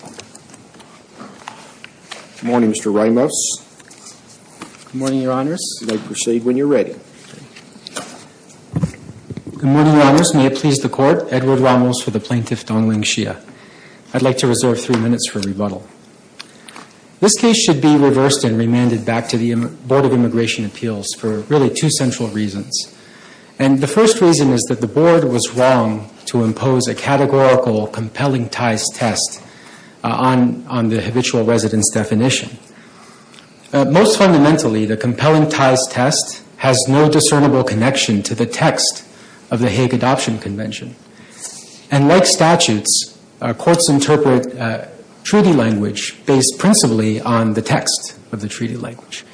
Good morning, Mr. Ramos. Good morning, Your Honors. You may proceed when you're ready. Good morning, Your Honors. May it please the Court, Edward Ramos for the plaintiff Donglan Xia. I'd like to reserve three minutes for rebuttal. This case should be reversed and remanded back to the Board of Immigration Appeals for really two central reasons. And the first reason is that the Board was wrong to impose a categorical compelling ties test on the habitual residence definition. Most fundamentally, the compelling ties test has no discernible connection to the text of the Hague Adoption Convention. And like statutes, courts interpret treaty language based principally on the text of the treaty language.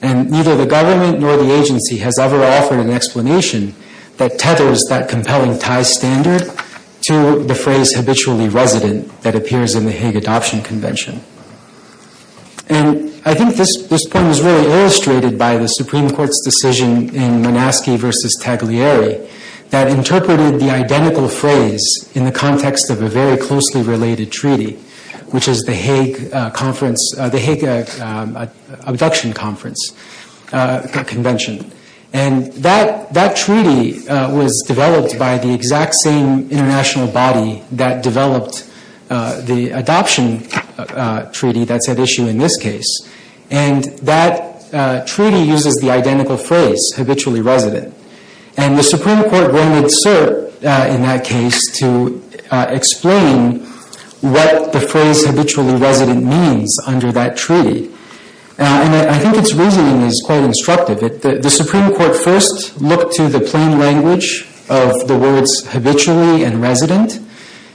And neither the government nor the agency has ever offered an explanation that tethers that compelling ties standard to the phrase habitually resident that appears in the Hague Adoption Convention. And I think this point was really illustrated by the Supreme Court's decision in Manaski v. Tagliari that interpreted the identical phrase in the context of a very closely related treaty, which is the Hague Adoption Convention. And that treaty was developed by the exact same international body that developed the adoption treaty that's at issue in this case. And that treaty uses the identical phrase, habitually resident. And the Supreme Court wanted cert in that case to explain what the phrase habitually resident means under that treaty. And I think its reasoning is quite instructive. The Supreme Court first looked to the plain language of the words habitually and resident.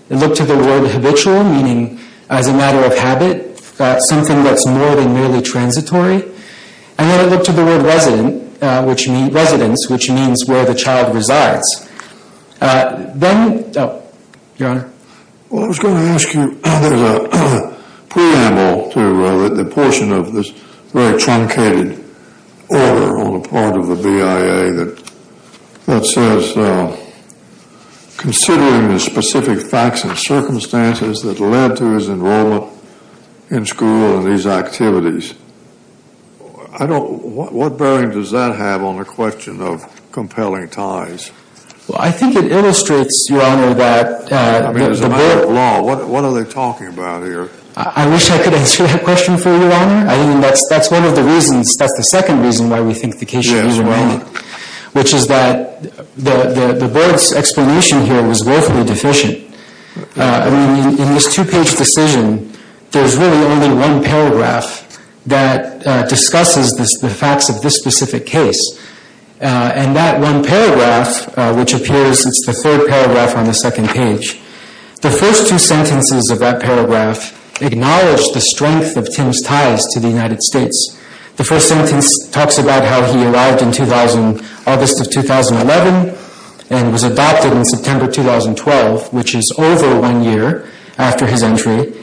It looked to the word habitual, meaning as a matter of habit, something that's more than merely transitory. And then it looked to the word resident, which means residence, which means where the child resides. Then, Your Honor? Well, I was going to ask you, there's a preamble to the portion of this very truncated order on the part of the BIA that says, considering the specific facts and circumstances that led to his enrollment in school and these activities, I don't, what bearing does that have on the question of compelling ties? Well, I think it illustrates, Your Honor, that the board I mean, as a matter of law, what are they talking about here? I wish I could answer that question for you, Your Honor. I mean, that's one of the reasons, that's the second reason why we think the case should be examined. Which is that the board's explanation here was woefully deficient. I mean, in this two-page decision, there's really only one paragraph that discusses the facts of this specific case. And that one paragraph, which appears, it's the third paragraph on the second page. The first two sentences of that paragraph acknowledge the strength of Tim's ties to the United States. The first sentence talks about how he arrived in August of 2011 and was adopted in September 2012, which is over one year after his entry.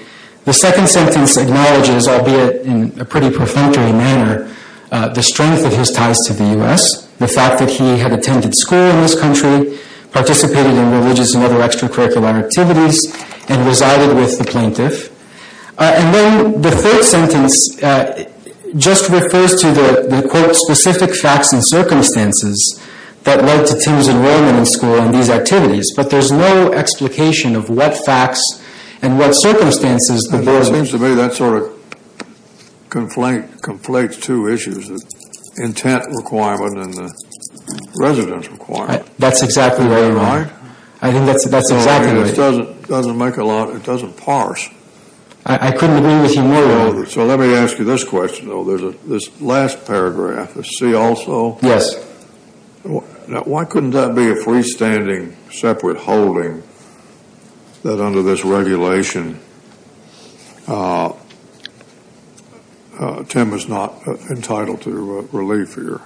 The second sentence acknowledges, albeit in a pretty perfunctory manner, the strength of his ties to the U.S., the fact that he had attended school in this country, participated in religious and other extracurricular activities, and resided with the plaintiff. And then the third sentence just refers to the, quote, specific facts and circumstances that led to Tim's enrollment in school and these activities. But there's no explication of what facts and what circumstances the board. It seems to me that sort of conflates two issues, the intent requirement and the residence requirement. That's exactly right. Right? I think that's exactly right. It doesn't make a lot, it doesn't parse. I couldn't agree with you more, though. So let me ask you this question, though. This last paragraph, the see also? Yes. Now, why couldn't that be a freestanding separate holding that under this regulation, Tim is not entitled to relief here,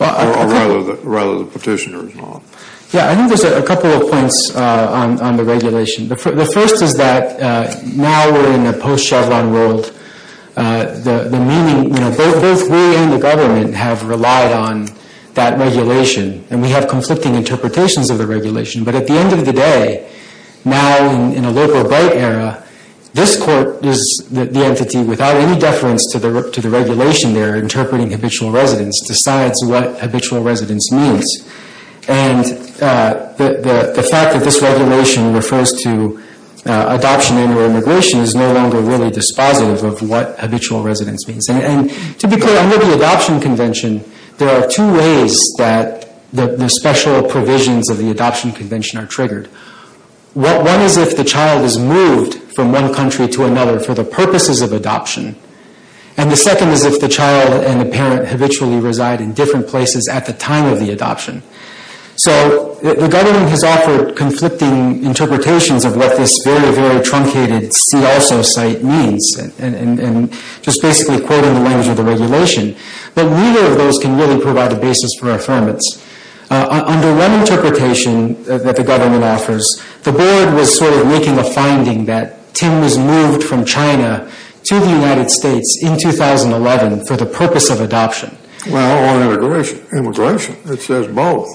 or rather the petitioner is not? Yeah, I think there's a couple of points on the regulation. The first is that now we're in a post-Chevron world. The meaning, you know, both we and the government have relied on that regulation, and we have conflicting interpretations of the regulation. But at the end of the day, now in a local bright era, this court is the entity without any deference to the regulation there, interpreting habitual residence, decides what habitual residence means. And the fact that this regulation refers to adoption and immigration is no longer really dispositive of what habitual residence means. And to be clear, under the Adoption Convention, there are two ways that the special provisions of the Adoption Convention are triggered. One is if the child is moved from one country to another for the purposes of adoption, and the second is if the child and the parent habitually reside in different places at the time of the adoption. So the government has offered conflicting interpretations of what this very, very truncated see-also site means, and just basically quoting the language of the regulation. But neither of those can really provide a basis for affirmance. Under one interpretation that the government offers, the board was sort of making a finding that Tim was moved from China to the United States in 2011 for the purpose of adoption. Well, or immigration. It says both.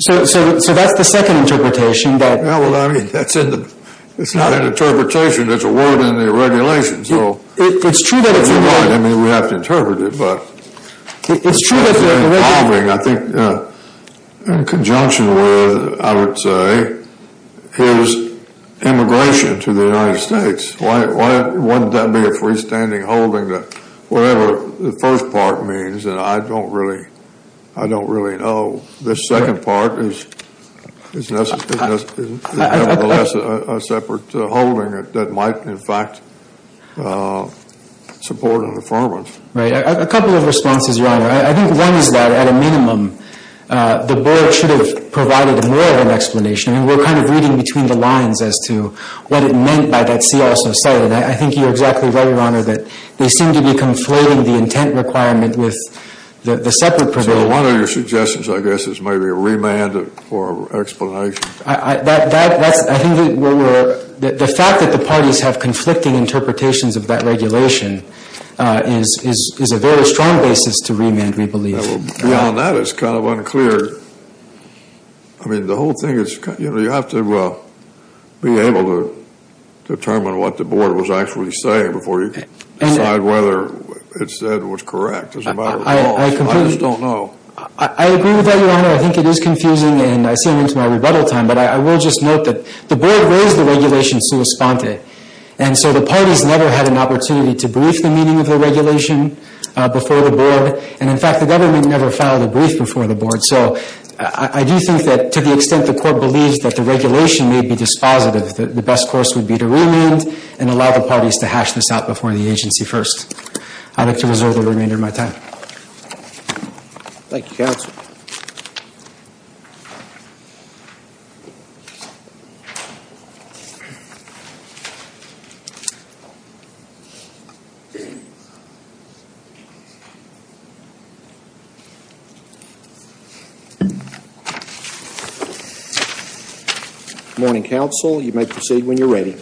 So that's the second interpretation. Well, I mean, that's not an interpretation. It's a word in the regulation. It's true that it's a word. I mean, we have to interpret it. It's true that they're involving, I think, in conjunction with, I would say, his immigration to the United States. Why wouldn't that be a freestanding holding that whatever the first part means, and I don't really know, this second part is nevertheless a separate holding that might, in fact, support an affirmance. Right. A couple of responses, Your Honor. I think one is that, at a minimum, the board should have provided more of an explanation. I mean, we're kind of reading between the lines as to what it meant by that see-also site. And I think you're exactly right, Your Honor, that they seem to be conflating the intent requirement with the separate provision. So one of your suggestions, I guess, is maybe a remand for explanation. I think the fact that the parties have conflicting interpretations of that regulation is a very strong basis to remand, we believe. Beyond that, it's kind of unclear. I mean, the whole thing is, you know, you have to be able to determine what the board was actually saying before you decide whether it said what's correct. It's a matter of law. I just don't know. I agree with that, Your Honor. I think it is confusing, and I see I'm into my rebuttal time. But I will just note that the board raised the regulation sua sponte. And so the parties never had an opportunity to brief the meaning of the regulation before the board. And, in fact, the government never filed a brief before the board. So I do think that, to the extent the court believes that the regulation may be dispositive, the best course would be to remand and allow the parties to hash this out before the agency first. I'd like to reserve the remainder of my time. Thank you, counsel. Good morning, counsel. You may proceed when you're ready.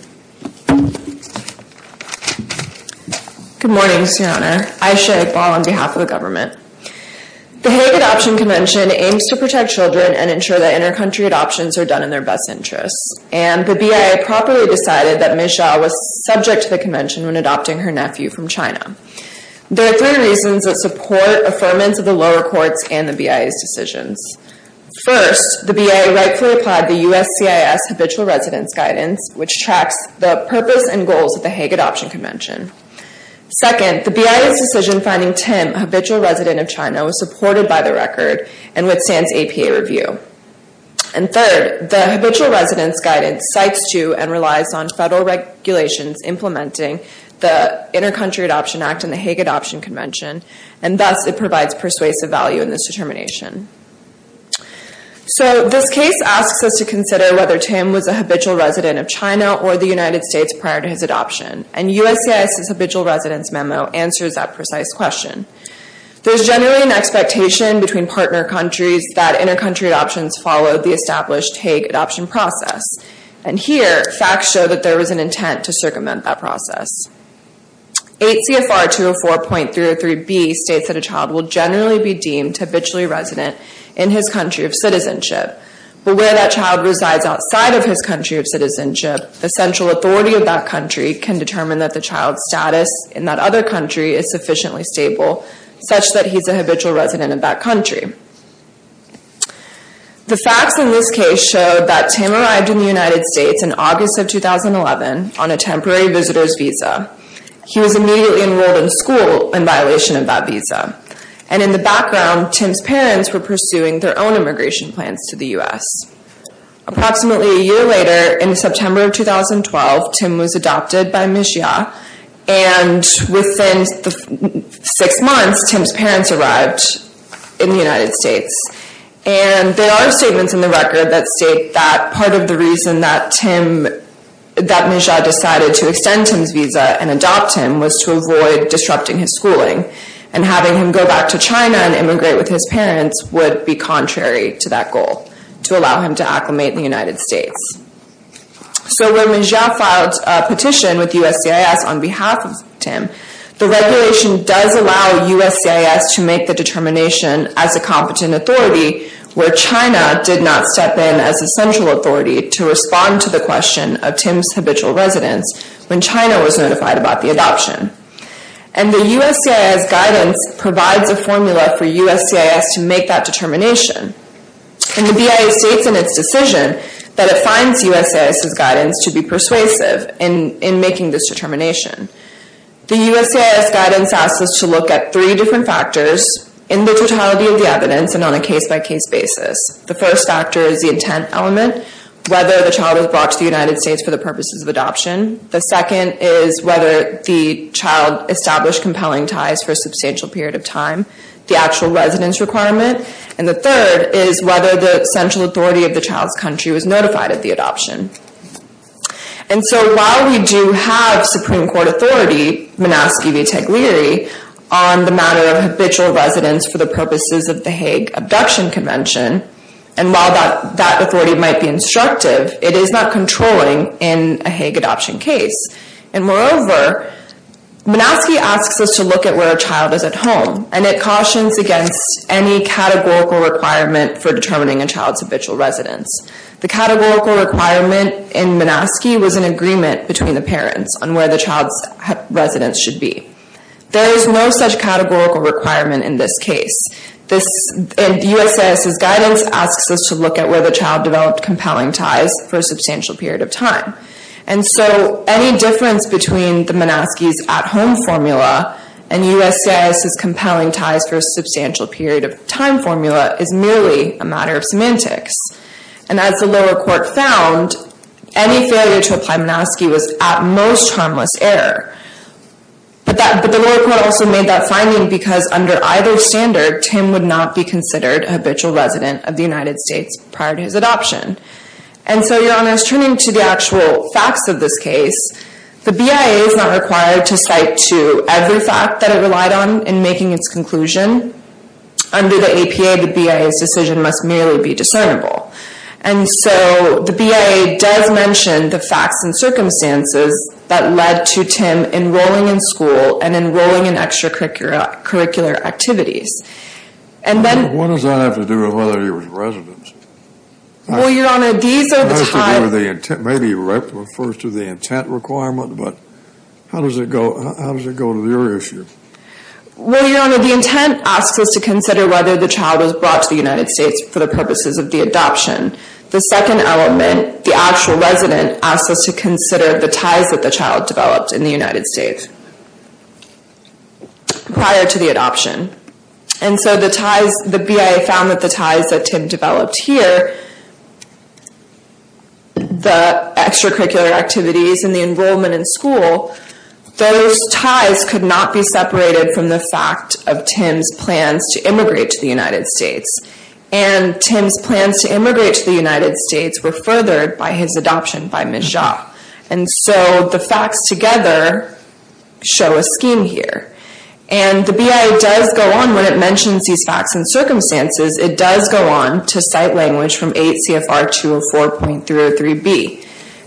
Good morning, Mr. Your Honor. Ayesha Iqbal on behalf of the government. The Hague Adoption Convention aims to protect children and ensure that inter-country adoptions are done in their best interests. And the BIA properly decided that Ms. Zhao was subject to the convention when adopting her nephew from China. There are three reasons that support affirmance of the lower courts and the BIA's decisions. First, the BIA rightfully applied the USCIS Habitual Residence Guidance, which tracks the purpose and goals of the Hague Adoption Convention. Second, the BIA's decision finding Tim a habitual resident of China was supported by the record and withstands APA review. And third, the Habitual Residence Guidance cites to and relies on federal regulations implementing the Inter-Country Adoption Act and the Hague Adoption Convention, and thus it provides persuasive value in this determination. So this case asks us to consider whether Tim was a habitual resident of China or the United States prior to his adoption. And USCIS's Habitual Residence Memo answers that precise question. There's generally an expectation between partner countries that inter-country adoptions follow the established Hague adoption process. And here, facts show that there was an intent to circumvent that process. 8 CFR 204.303b states that a child will generally be deemed habitually resident in his country of citizenship. But where that child resides outside of his country of citizenship, the central authority of that country can determine that the child's status in that other country is sufficiently stable, such that he's a habitual resident of that country. The facts in this case show that Tim arrived in the United States in August of 2011 on a temporary visitor's visa. He was immediately enrolled in school in violation of that visa. And in the background, Tim's parents were pursuing their own immigration plans to the U.S. Approximately a year later, in September of 2012, Tim was adopted by Mijia. And within six months, Tim's parents arrived in the United States. And there are statements in the record that state that part of the reason that Mijia decided to extend Tim's visa and adopt him was to avoid disrupting his schooling. And having him go back to China and immigrate with his parents would be contrary to that goal, to allow him to acclimate in the United States. So when Mijia filed a petition with USCIS on behalf of Tim, the regulation does allow USCIS to make the determination as a competent authority where China did not step in as a central authority to respond to the question of Tim's habitual residence when China was notified about the adoption. And the USCIS guidance provides a formula for USCIS to make that determination. And the BIA states in its decision that it finds USCIS' guidance to be persuasive in making this determination. The USCIS guidance asks us to look at three different factors in the totality of the evidence and on a case-by-case basis. The first factor is the intent element, whether the child was brought to the United States for the purposes of adoption. The second is whether the child established compelling ties for a substantial period of time. The actual residence requirement. And the third is whether the central authority of the child's country was notified of the adoption. And so while we do have Supreme Court authority, Manaski v. Taglieri, on the matter of habitual residence for the purposes of the Hague Abduction Convention, and while that authority might be instructive, it is not controlling in a Hague adoption case. And moreover, Manaski asks us to look at where a child is at home, and it cautions against any categorical requirement for determining a child's habitual residence. The categorical requirement in Manaski was an agreement between the parents on where the child's residence should be. There is no such categorical requirement in this case. And USCIS's guidance asks us to look at where the child developed compelling ties for a substantial period of time. And so any difference between the Manaski's at-home formula and USCIS's compelling ties for a substantial period of time formula is merely a matter of semantics. And as the lower court found, any failure to apply Manaski was at most harmless error. But the lower court also made that finding because under either standard, Tim would not be considered a habitual resident of the United States prior to his adoption. And so Your Honor, turning to the actual facts of this case, the BIA is not required to cite to every fact that it relied on in making its conclusion. Under the APA, the BIA's decision must merely be discernible. And so the BIA does mention the facts and circumstances that led to Tim enrolling in school and enrolling in extracurricular activities. And then... What does that have to do with whether he was a resident? Well, Your Honor, these are the ties... Maybe it refers to the intent requirement, but how does it go to your issue? Well, Your Honor, the intent asks us to consider whether the child was brought to the United States for the purposes of the adoption. The second element, the actual resident, asks us to consider the ties that the child developed in the United States prior to the adoption. And so the BIA found that the ties that Tim developed here, the extracurricular activities and the enrollment in school, those ties could not be separated from the fact of Tim's plans to immigrate to the United States. And Tim's plans to immigrate to the United States were furthered by his adoption by Ms. Jha. And so the facts together show a scheme here. And the BIA does go on, when it mentions these facts and circumstances, it does go on to cite language from 8 CFR 204.303B.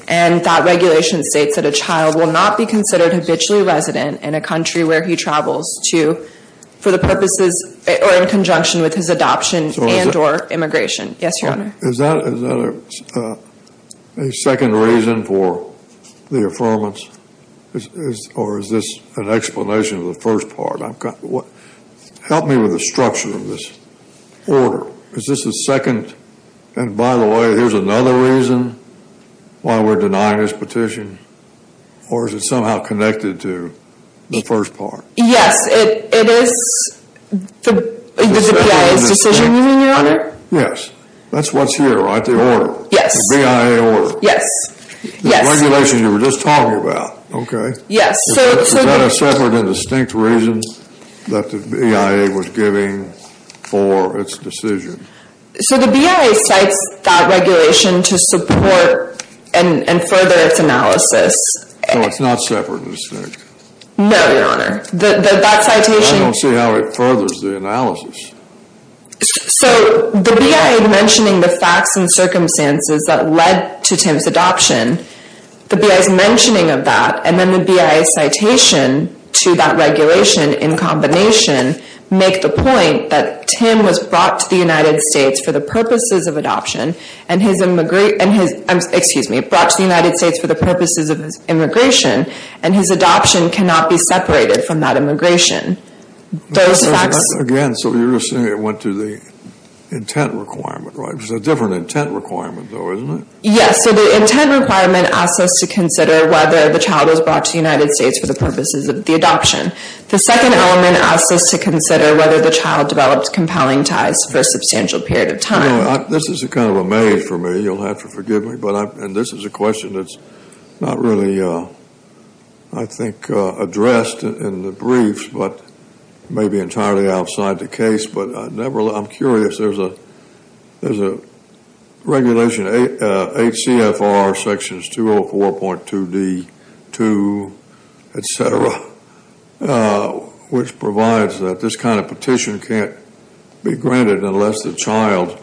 And that regulation states that a child will not be considered habitually resident in a country where he travels for the purposes or in conjunction with his adoption and or immigration. Yes, Your Honor. Is that a second reason for the affirmance? Or is this an explanation of the first part? Help me with the structure of this order. Is this a second? And by the way, here's another reason why we're denying this petition. Or is it somehow connected to the first part? Yes, it is the BIA's decision, Your Honor. Yes, that's what's here, right? Yes. The BIA order. Yes. The regulation you were just talking about, okay? Yes. Is that a separate and distinct reason that the BIA was giving for its decision? So the BIA cites that regulation to support and further its analysis. So it's not separate and distinct? No, Your Honor. That citation... I don't see how it furthers the analysis. So the BIA mentioning the facts and circumstances that led to Tim's adoption, the BIA's mentioning of that and then the BIA's citation to that regulation in combination make the point that Tim was brought to the United States for the purposes of adoption and his immigration... Excuse me, brought to the United States for the purposes of immigration and his adoption cannot be separated from that immigration. Those facts... Again, so you're saying it went to the intent requirement, right? It was a different intent requirement though, isn't it? Yes. So the intent requirement asks us to consider whether the child was brought to the United States for the purposes of the adoption. The second element asks us to consider whether the child developed compelling ties for a substantial period of time. This is kind of a maze for me. You'll have to forgive me. And this is a question that's not really, I think, addressed in the briefs but maybe entirely outside the case. But I'm curious. There's a regulation, HCFR sections 204.2D2, etc., which provides that this kind of petition can't be granted unless the child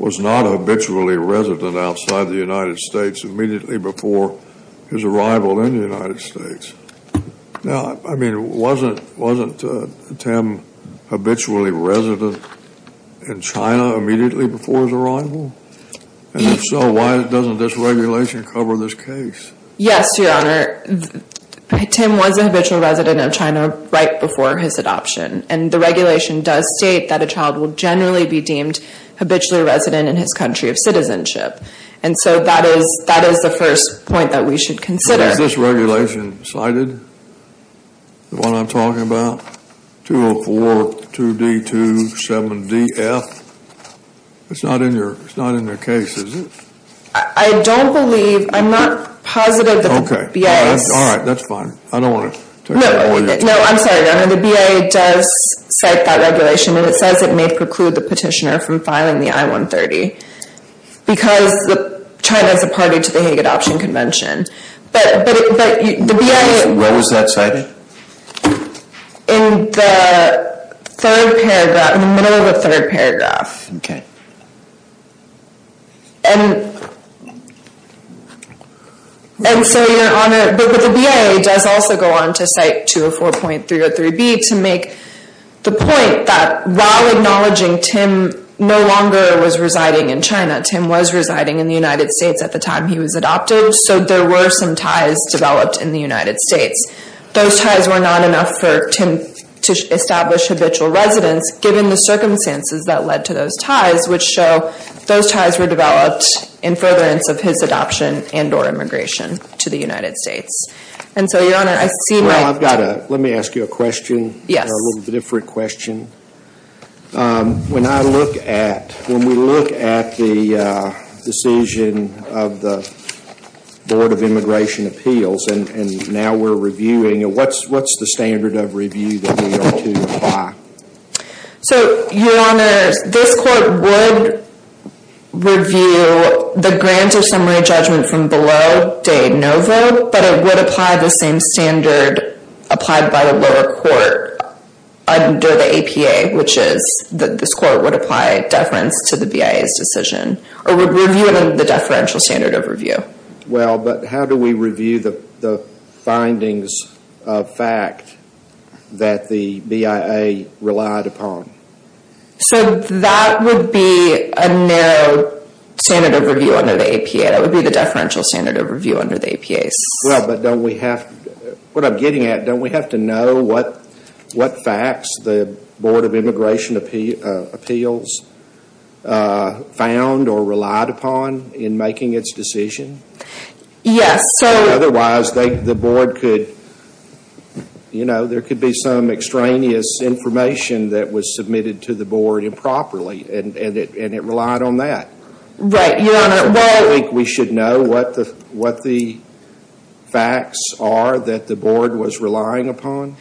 was not habitually resident outside the United States immediately before his arrival in the United States. Now, I mean, wasn't Tim habitually resident in China immediately before his arrival? And if so, why doesn't this regulation cover this case? Yes, Your Honor. Tim was a habitual resident of China right before his adoption. And the regulation does state that a child will generally be deemed habitually resident in his country of citizenship. And so that is the first point that we should consider. Is this regulation cited? The one I'm talking about? 204.2D2.7DF? It's not in your case, is it? I don't believe. I'm not positive that the B.A. All right, that's fine. I don't want to take that away from you. No, I'm sorry, Your Honor. The B.A. does cite that regulation. And it says it may preclude the petitioner from filing the I-130 because China is a party to the Hague Adoption Convention. But the B.A. When was that cited? In the third paragraph, in the middle of the third paragraph. And so, Your Honor, but the B.A. does also go on to cite 204.303B to make the point that while acknowledging Tim no longer was residing in China, Tim was residing in the United States at the time he was adopted. So there were some ties developed in the United States. Those ties were not enough for Tim to establish habitual residence given the circumstances that led to those ties which show those ties were developed in furtherance of his adoption and or immigration to the United States. And so, Your Honor, I see my... Well, I've got a... Let me ask you a question. Yes. A little different question. When I look at... When we look at the decision of the Board of Immigration Appeals and now we're reviewing it, what's the standard of review that we ought to apply? So, Your Honor, this court would review the grant of summary judgment from below de novo, but it would apply the same standard applied by the lower court under the APA, which is that this court would apply deference to the BIA's decision or would review it under the deferential standard of review. Well, but how do we review the findings of fact that the BIA relied upon? So that would be a narrow standard of review under the APA. That would be the deferential standard of review under the APA. Well, but don't we have... What I'm getting at, don't we have to know what facts the Board of Immigration Appeals found or relied upon in making its decision? Yes, so... Otherwise, the Board could... You know, there could be some extraneous information that was submitted to the Board improperly and it relied on that. Right, Your Honor. We should know what the facts are that the Board was relying upon?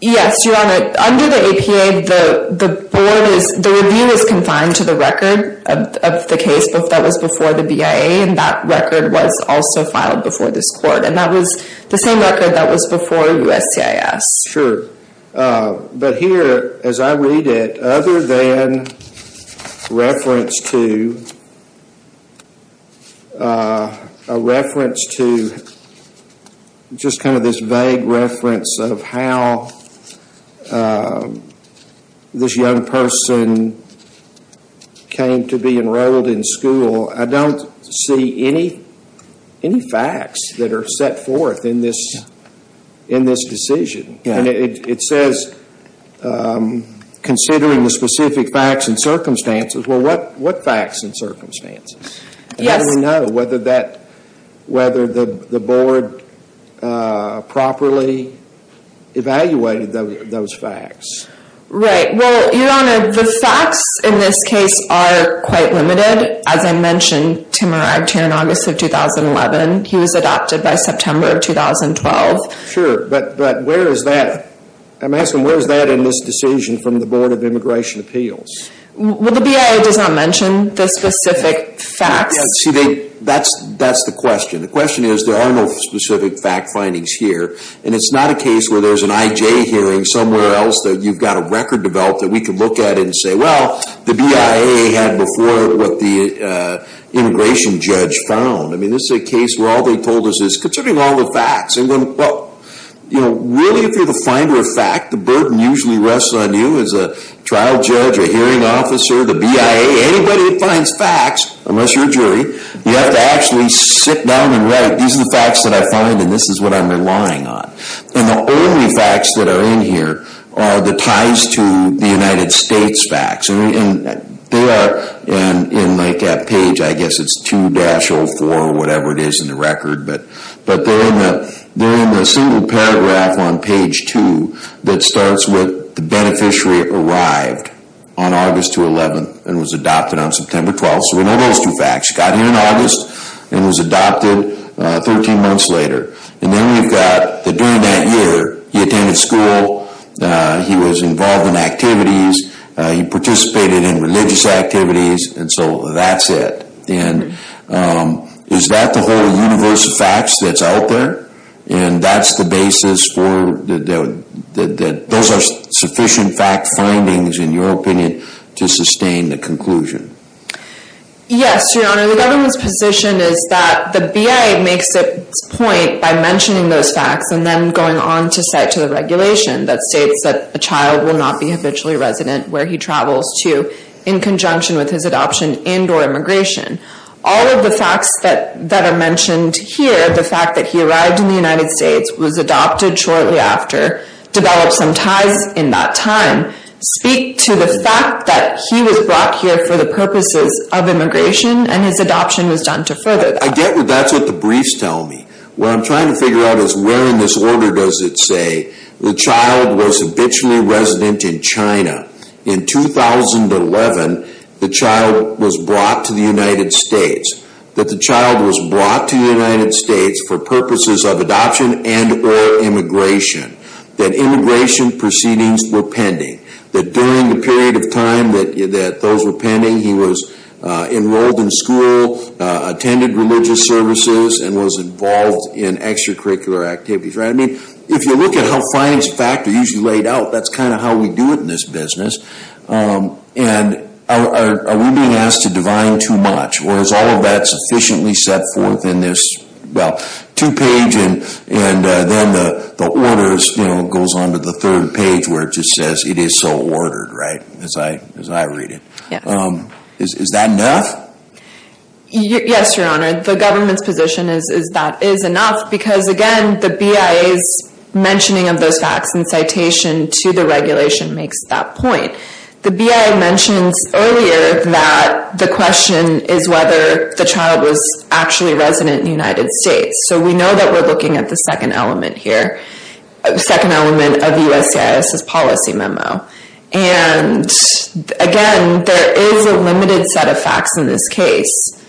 Yes, Your Honor. Under the APA, the Board is... The review is confined to the record of the case that was before the BIA and that record was also filed before this court and that was the same record that was before USCIS. Sure. But here, as I read it, other than reference to... a reference to... just kind of this vague reference of how this young person came to be enrolled in school, I don't see any facts that are set forth in this decision. It says, considering the specific facts and circumstances, well, what facts and circumstances? How do we know whether that... whether the Board properly evaluated those facts? Right. Well, Your Honor, the facts in this case are quite limited. As I mentioned, Tim arrived here in August of 2011. He was adopted by September of 2012. Sure. But where is that... I'm asking, where is that in this decision from the Board of Immigration Appeals? Well, the BIA does not mention the specific facts. See, that's the question. The question is, there are no specific fact findings here. And it's not a case where there's an IJ hearing somewhere else that you've got a record developed that we can look at and say, well, the BIA had before what the immigration judge found. I mean, this is a case where all they told us is, considering all the facts, and then, well, you know, really, if you're the finder of fact, the burden usually rests on you as a trial judge, a hearing officer, the BIA, anybody that finds facts, unless you're a jury, you have to actually sit down and write, these are the facts that I find and this is what I'm relying on. And the only facts that are in here are the ties to the United States facts. And they are, in like that page, I guess it's 2-04, or whatever it is in the record, but they're in the single paragraph on page 2 that starts with, the beneficiary arrived on August 2, 11, and was adopted on September 12. So we know those two facts. He got here in August and was adopted 13 months later. And then we've got, that during that year, he attended school, he was involved in activities, he participated in religious activities, and so that's it. And is that the whole universe of facts that's out there? And that's the basis for, those are sufficient fact findings, in your opinion, to sustain the conclusion. Yes, Your Honor. The government's position is that the BIA makes its point by mentioning those facts and then going on to cite to the regulation that states that a child will not be habitually resident where he travels to in conjunction with his adoption and or immigration. All of the facts that are mentioned here, the fact that he arrived in the United States, was adopted shortly after, developed some ties in that time, speak to the fact that he was brought here for the purposes of immigration and his adoption was done to further that. I get that that's what the briefs tell me. What I'm trying to figure out is where in this order does it say the child was habitually resident in China. In 2011, the child was brought to the United States. That the child was brought to the United States for purposes of adoption and or immigration. That immigration proceedings were pending. That during the period of time that those were pending, he was enrolled in school, attended religious services, and was involved in extracurricular activities. If you look at how finance factors are usually laid out, that's kind of how we do it in this business. Are we being asked to divine too much? Or is all of that sufficiently set forth in this two page and then the orders goes on to the third page where it just says it is so ordered, right? As I read it. Is that enough? Yes, your honor. The government's position is that is enough because again the BIA's mentioning of those facts and citation to the regulation makes that point. The BIA mentions earlier that the question is whether the child was actually resident in the United States. So we know that we're looking at the second element here. The second element of the USCIS policy memo. And again, there is a limited set of facts in this case.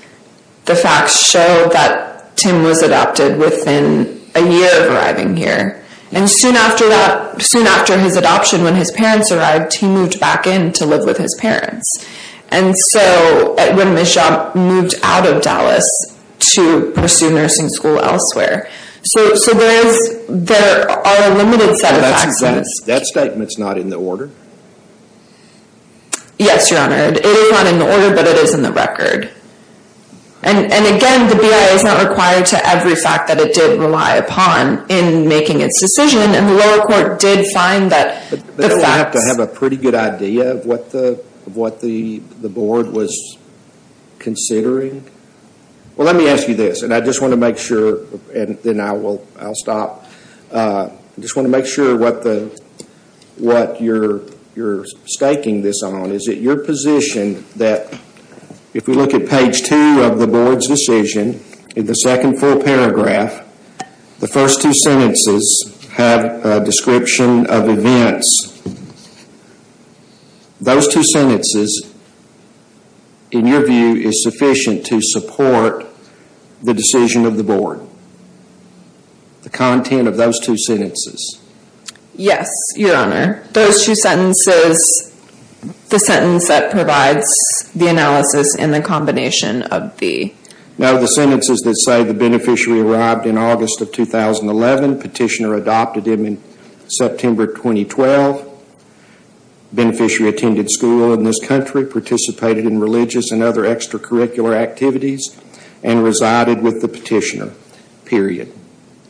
The facts show that Tim was adopted within a year of arriving here. And soon after his adoption, when his parents arrived, he moved back in to live with his parents. And so, when Mishab moved out of Dallas to pursue nursing school elsewhere. So there are a limited set of facts. That statement is not in the order? Yes, your honor. It is not in the order, but it is in the record. And again, the BIA is not required to every fact that it did rely upon in making its decision. And the lower court did find that the facts... But we have to have a pretty good idea of what the board was considering? Well, let me ask you this. And I just want to make sure... And then I will stop. I just want to make sure what you're staking this on. Is it your position that if we look at page two of the board's decision, in the second full paragraph, the first two sentences have a description of events. Those two sentences, in your view, is sufficient to support the decision of the board? The content of those two sentences? Yes, your honor. Those two sentences, the sentence that provides the analysis in the combination of the... Now, the sentences that say the beneficiary arrived in August of 2011, petitioner adopted him in September 2012, beneficiary attended school in this country, participated in religious and other extracurricular activities, and resided with the petitioner, period.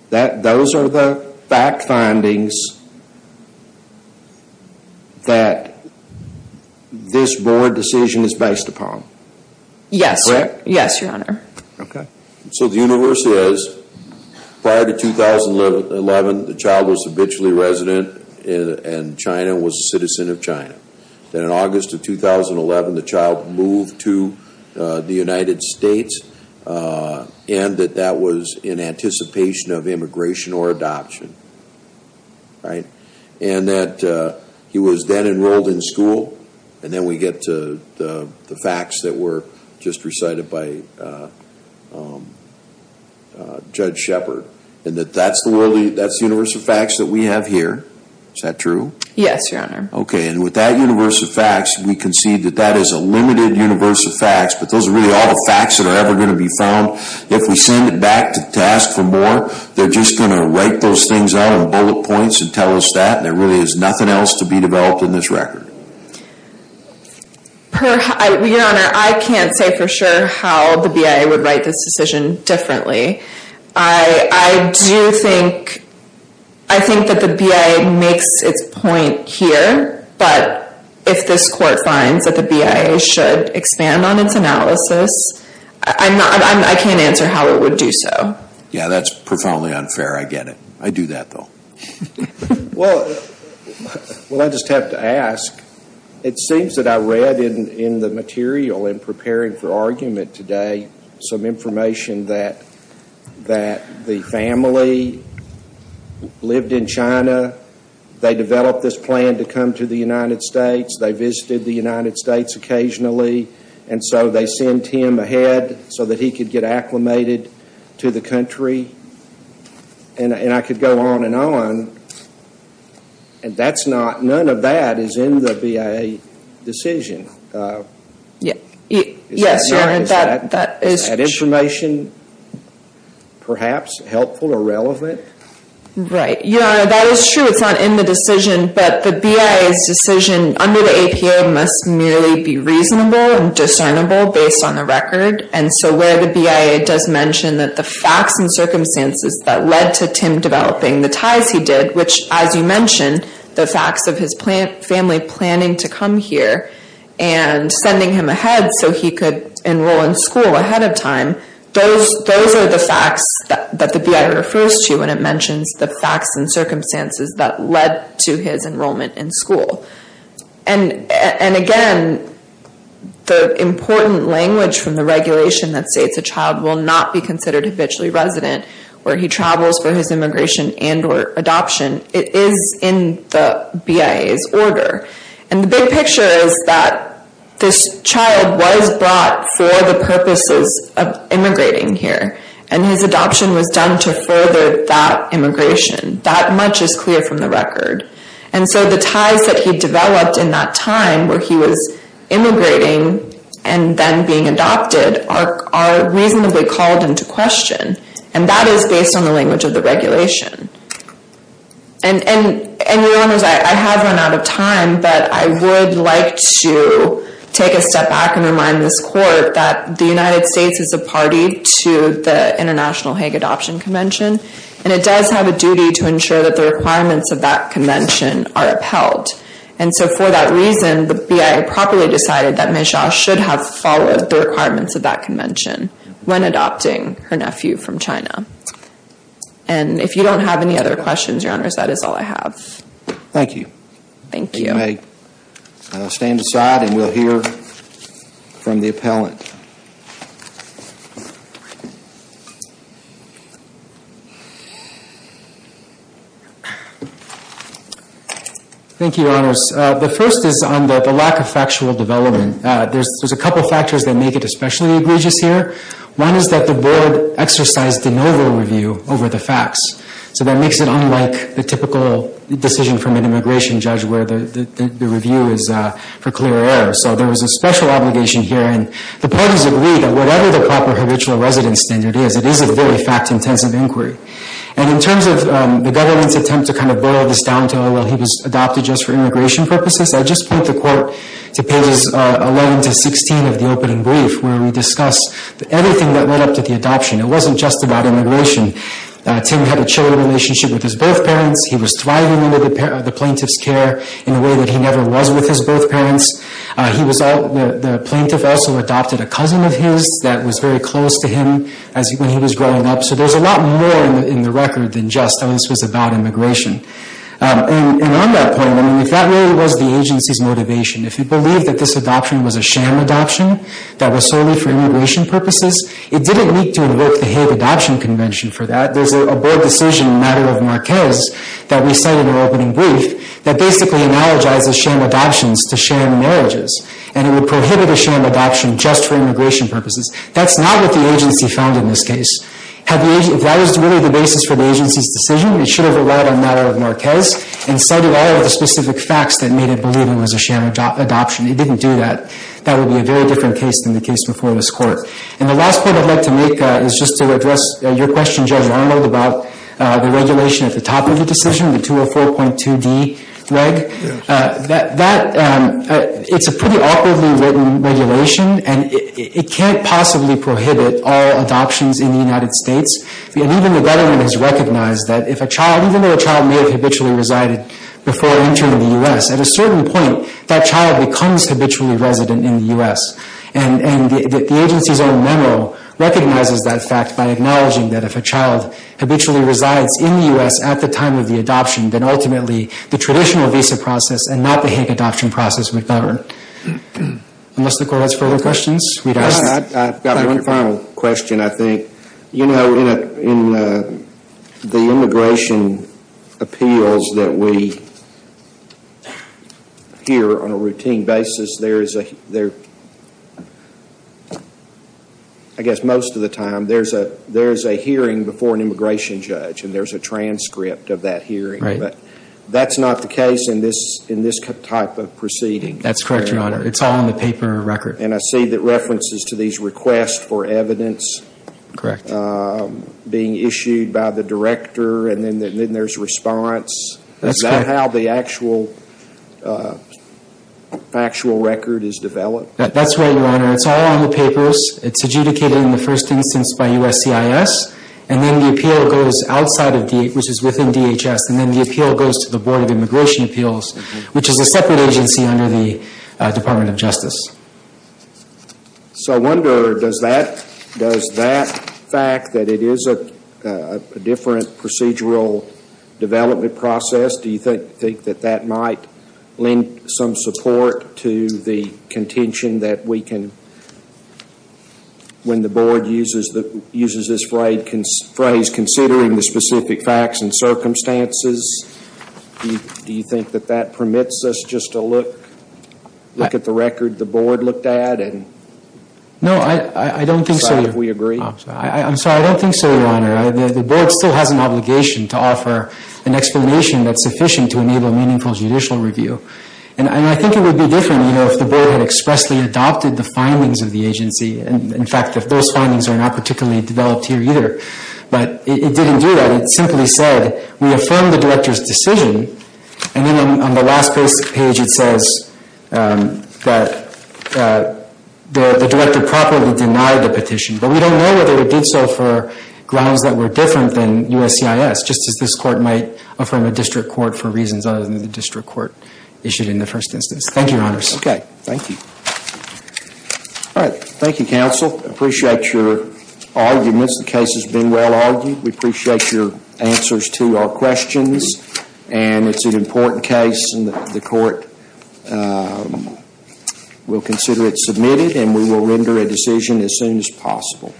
Those are the fact findings that this board decision is based upon. Yes, your honor. Okay. So the universe says, prior to 2011, the child was habitually resident and China was a citizen of China. Then in August of 2011, the child moved to the United States and that that was in anticipation of immigration or adoption. Right? And that he was then enrolled in school and then we get to the facts that were just recited by Judge Shepard. And that's the universe of facts that we have here. Is that true? Yes, your honor. Okay. And with that universe of facts, we concede that that is a limited universe of facts, but those are really all the facts that are ever going to be found. If we send it back to task for more, they're just going to write those things out in bullet points and tell us that and there really is nothing else to be developed in this record. Your honor, I can't say for sure how the BIA would write this decision differently. I do think, I think that the BIA makes its point here, but if this court finds that the BIA should expand on its analysis, I can't answer how it would do so. Yeah, that's profoundly unfair. I get it. I do that though. Well, I just have to ask, it seems that I read in the material in preparing for argument today some information that the family lived in China. They developed this plan to come to the United States. They visited the United States occasionally and so they sent him ahead so that he could get acclimated to the country and I could go on and on and none of that is in the BIA decision. Yes, your honor. Is that information perhaps helpful or relevant? Right. Your honor, that is true. It's not in the decision, but the BIA's decision under the APO must merely be reasonable and discernible based on the record and so where the BIA does mention that the facts and circumstances that led to Tim developing the ties he did, which as you mentioned, the facts of his family planning to come here and sending him ahead so he could enroll in school ahead of time, those are the facts that the BIA refers to when it mentions the facts and circumstances that led to his enrollment in school and again, the important language from the regulation that states a child will not be considered habitually resident where he travels for his immigration and or adoption, it is in the BIA's order and the big picture is that this child was brought for the purposes of immigrating here and his adoption was done to further that immigration. That much is clear from the record and so the ties that he developed in that time where he was immigrating and then being adopted are reasonably called into question and that is based on the language of the regulation and your honors, I have run out of time but I would like to take a step back and remind this court that the United States is a party to the International Hague Adoption Convention and it does have a duty to ensure that the requirements of that convention are upheld and so for that reason, the BIA properly decided that Ms. Zhao should have followed the requirements of that convention when adopting her nephew from China and if you don't have any other questions, your honors, that is all I have. Thank you. Thank you. You may stand aside and we'll hear from the appellant. Thank you, your honors. The first is on the lack of factual development. There's a couple factors that make it especially egregious here. One is that the board exercised de novo review over the facts so that makes it unlike the typical decision from an immigration judge where the review is for clear error so there was a special obligation here and the parties agreed that whatever the proper habitual residence standard is, it is a very fact-intensive inquiry and in terms of the government's attempt to kind of boil this down to, oh, well, he was adopted just for immigration purposes, I just point the court to pages 11 to 16 of the opening brief where we discuss everything that led up to the adoption. It wasn't just about immigration. Tim had a children relationship with his birth parents. He was thriving under the plaintiff's care in a way that he never was with his birth parents. The plaintiff also adopted a cousin of his that was very close to him when he was growing up so there's a lot more in the record than just this was about immigration. And on that point, if that really was the agency's motivation, if it believed that this adoption was a sham adoption that was solely for immigration purposes, it didn't need to invoke the Hague Adoption Convention for that. There's a board decision in the matter of Marquez that we cite in our opening brief that basically analogizes sham adoptions to sham marriages and it would prohibit a sham adoption just for immigration purposes. That's not what the agency found in this case. If that was really the basis for the agency's decision, it should have relied on the matter of Marquez and cited all of the specific facts that made it believe it was a sham adoption. It didn't do that. That would be a very different case than the case before this Court. And the last point I'd like to make is just to address your question, Judge Arnold, about the regulation at the top of the decision, the 204.2d reg. It's a pretty awkwardly written regulation and it can't possibly prohibit all adoptions in the United States. Even the government has recognized that even though a child may have habitually resided before entering the U.S., at a certain point, that child becomes habitually resident in the U.S. And the agency's own memo recognizes that fact by acknowledging that if a child habitually resides in the U.S. at the time of the adoption, then ultimately the traditional visa process and not the HIC adoption process would govern. Unless the Court has further questions? I've got one final question, I think. You know, in the immigration appeals that we hear on a routine basis, there is a, I guess most of the time, there's a hearing before an immigration judge and there's a transcript of that hearing. Right. But that's not the case in this type of proceeding. That's correct, Your Honor. It's all in the paper record. And I see that references to these requests for evidence Correct. being issued by the director and then there's response. That's correct. Is that how the actual record is developed? That's right, Your Honor. It's all on the papers. It's adjudicated in the first instance by USCIS and then the appeal goes outside of DHS, which is within DHS, and then the appeal goes to the Board of Immigration Appeals, which is a separate agency under the Department of Justice. So I wonder, does that fact that it is a different procedural development process, do you think that that might lend some support to the contention that we can, when the Board uses this phrase, considering the specific facts and circumstances, do you think that that permits us just to look at the record that the Board looked at and decide if we agree? No, I don't think so. I'm sorry. I don't think so, Your Honor. The Board still has an obligation to offer an explanation that's sufficient to enable meaningful judicial review. And I think it would be different, you know, if the Board had expressly adopted the findings of the agency. In fact, those findings are not particularly developed here either. But it didn't do that. It simply said we affirm the director's decision And then on the last page it says that the director properly denied the petition. But we don't know whether it did so for grounds that were different than USCIS, just as this Court might affirm a district court for reasons other than the district court issued in the first instance. Thank you, Your Honors. Okay. Thank you. All right. Thank you, Counsel. I appreciate your arguments. The case has been well argued. We appreciate your answers to our questions. And it's an important case. And the Court will consider it submitted. And we will render a decision as soon as possible.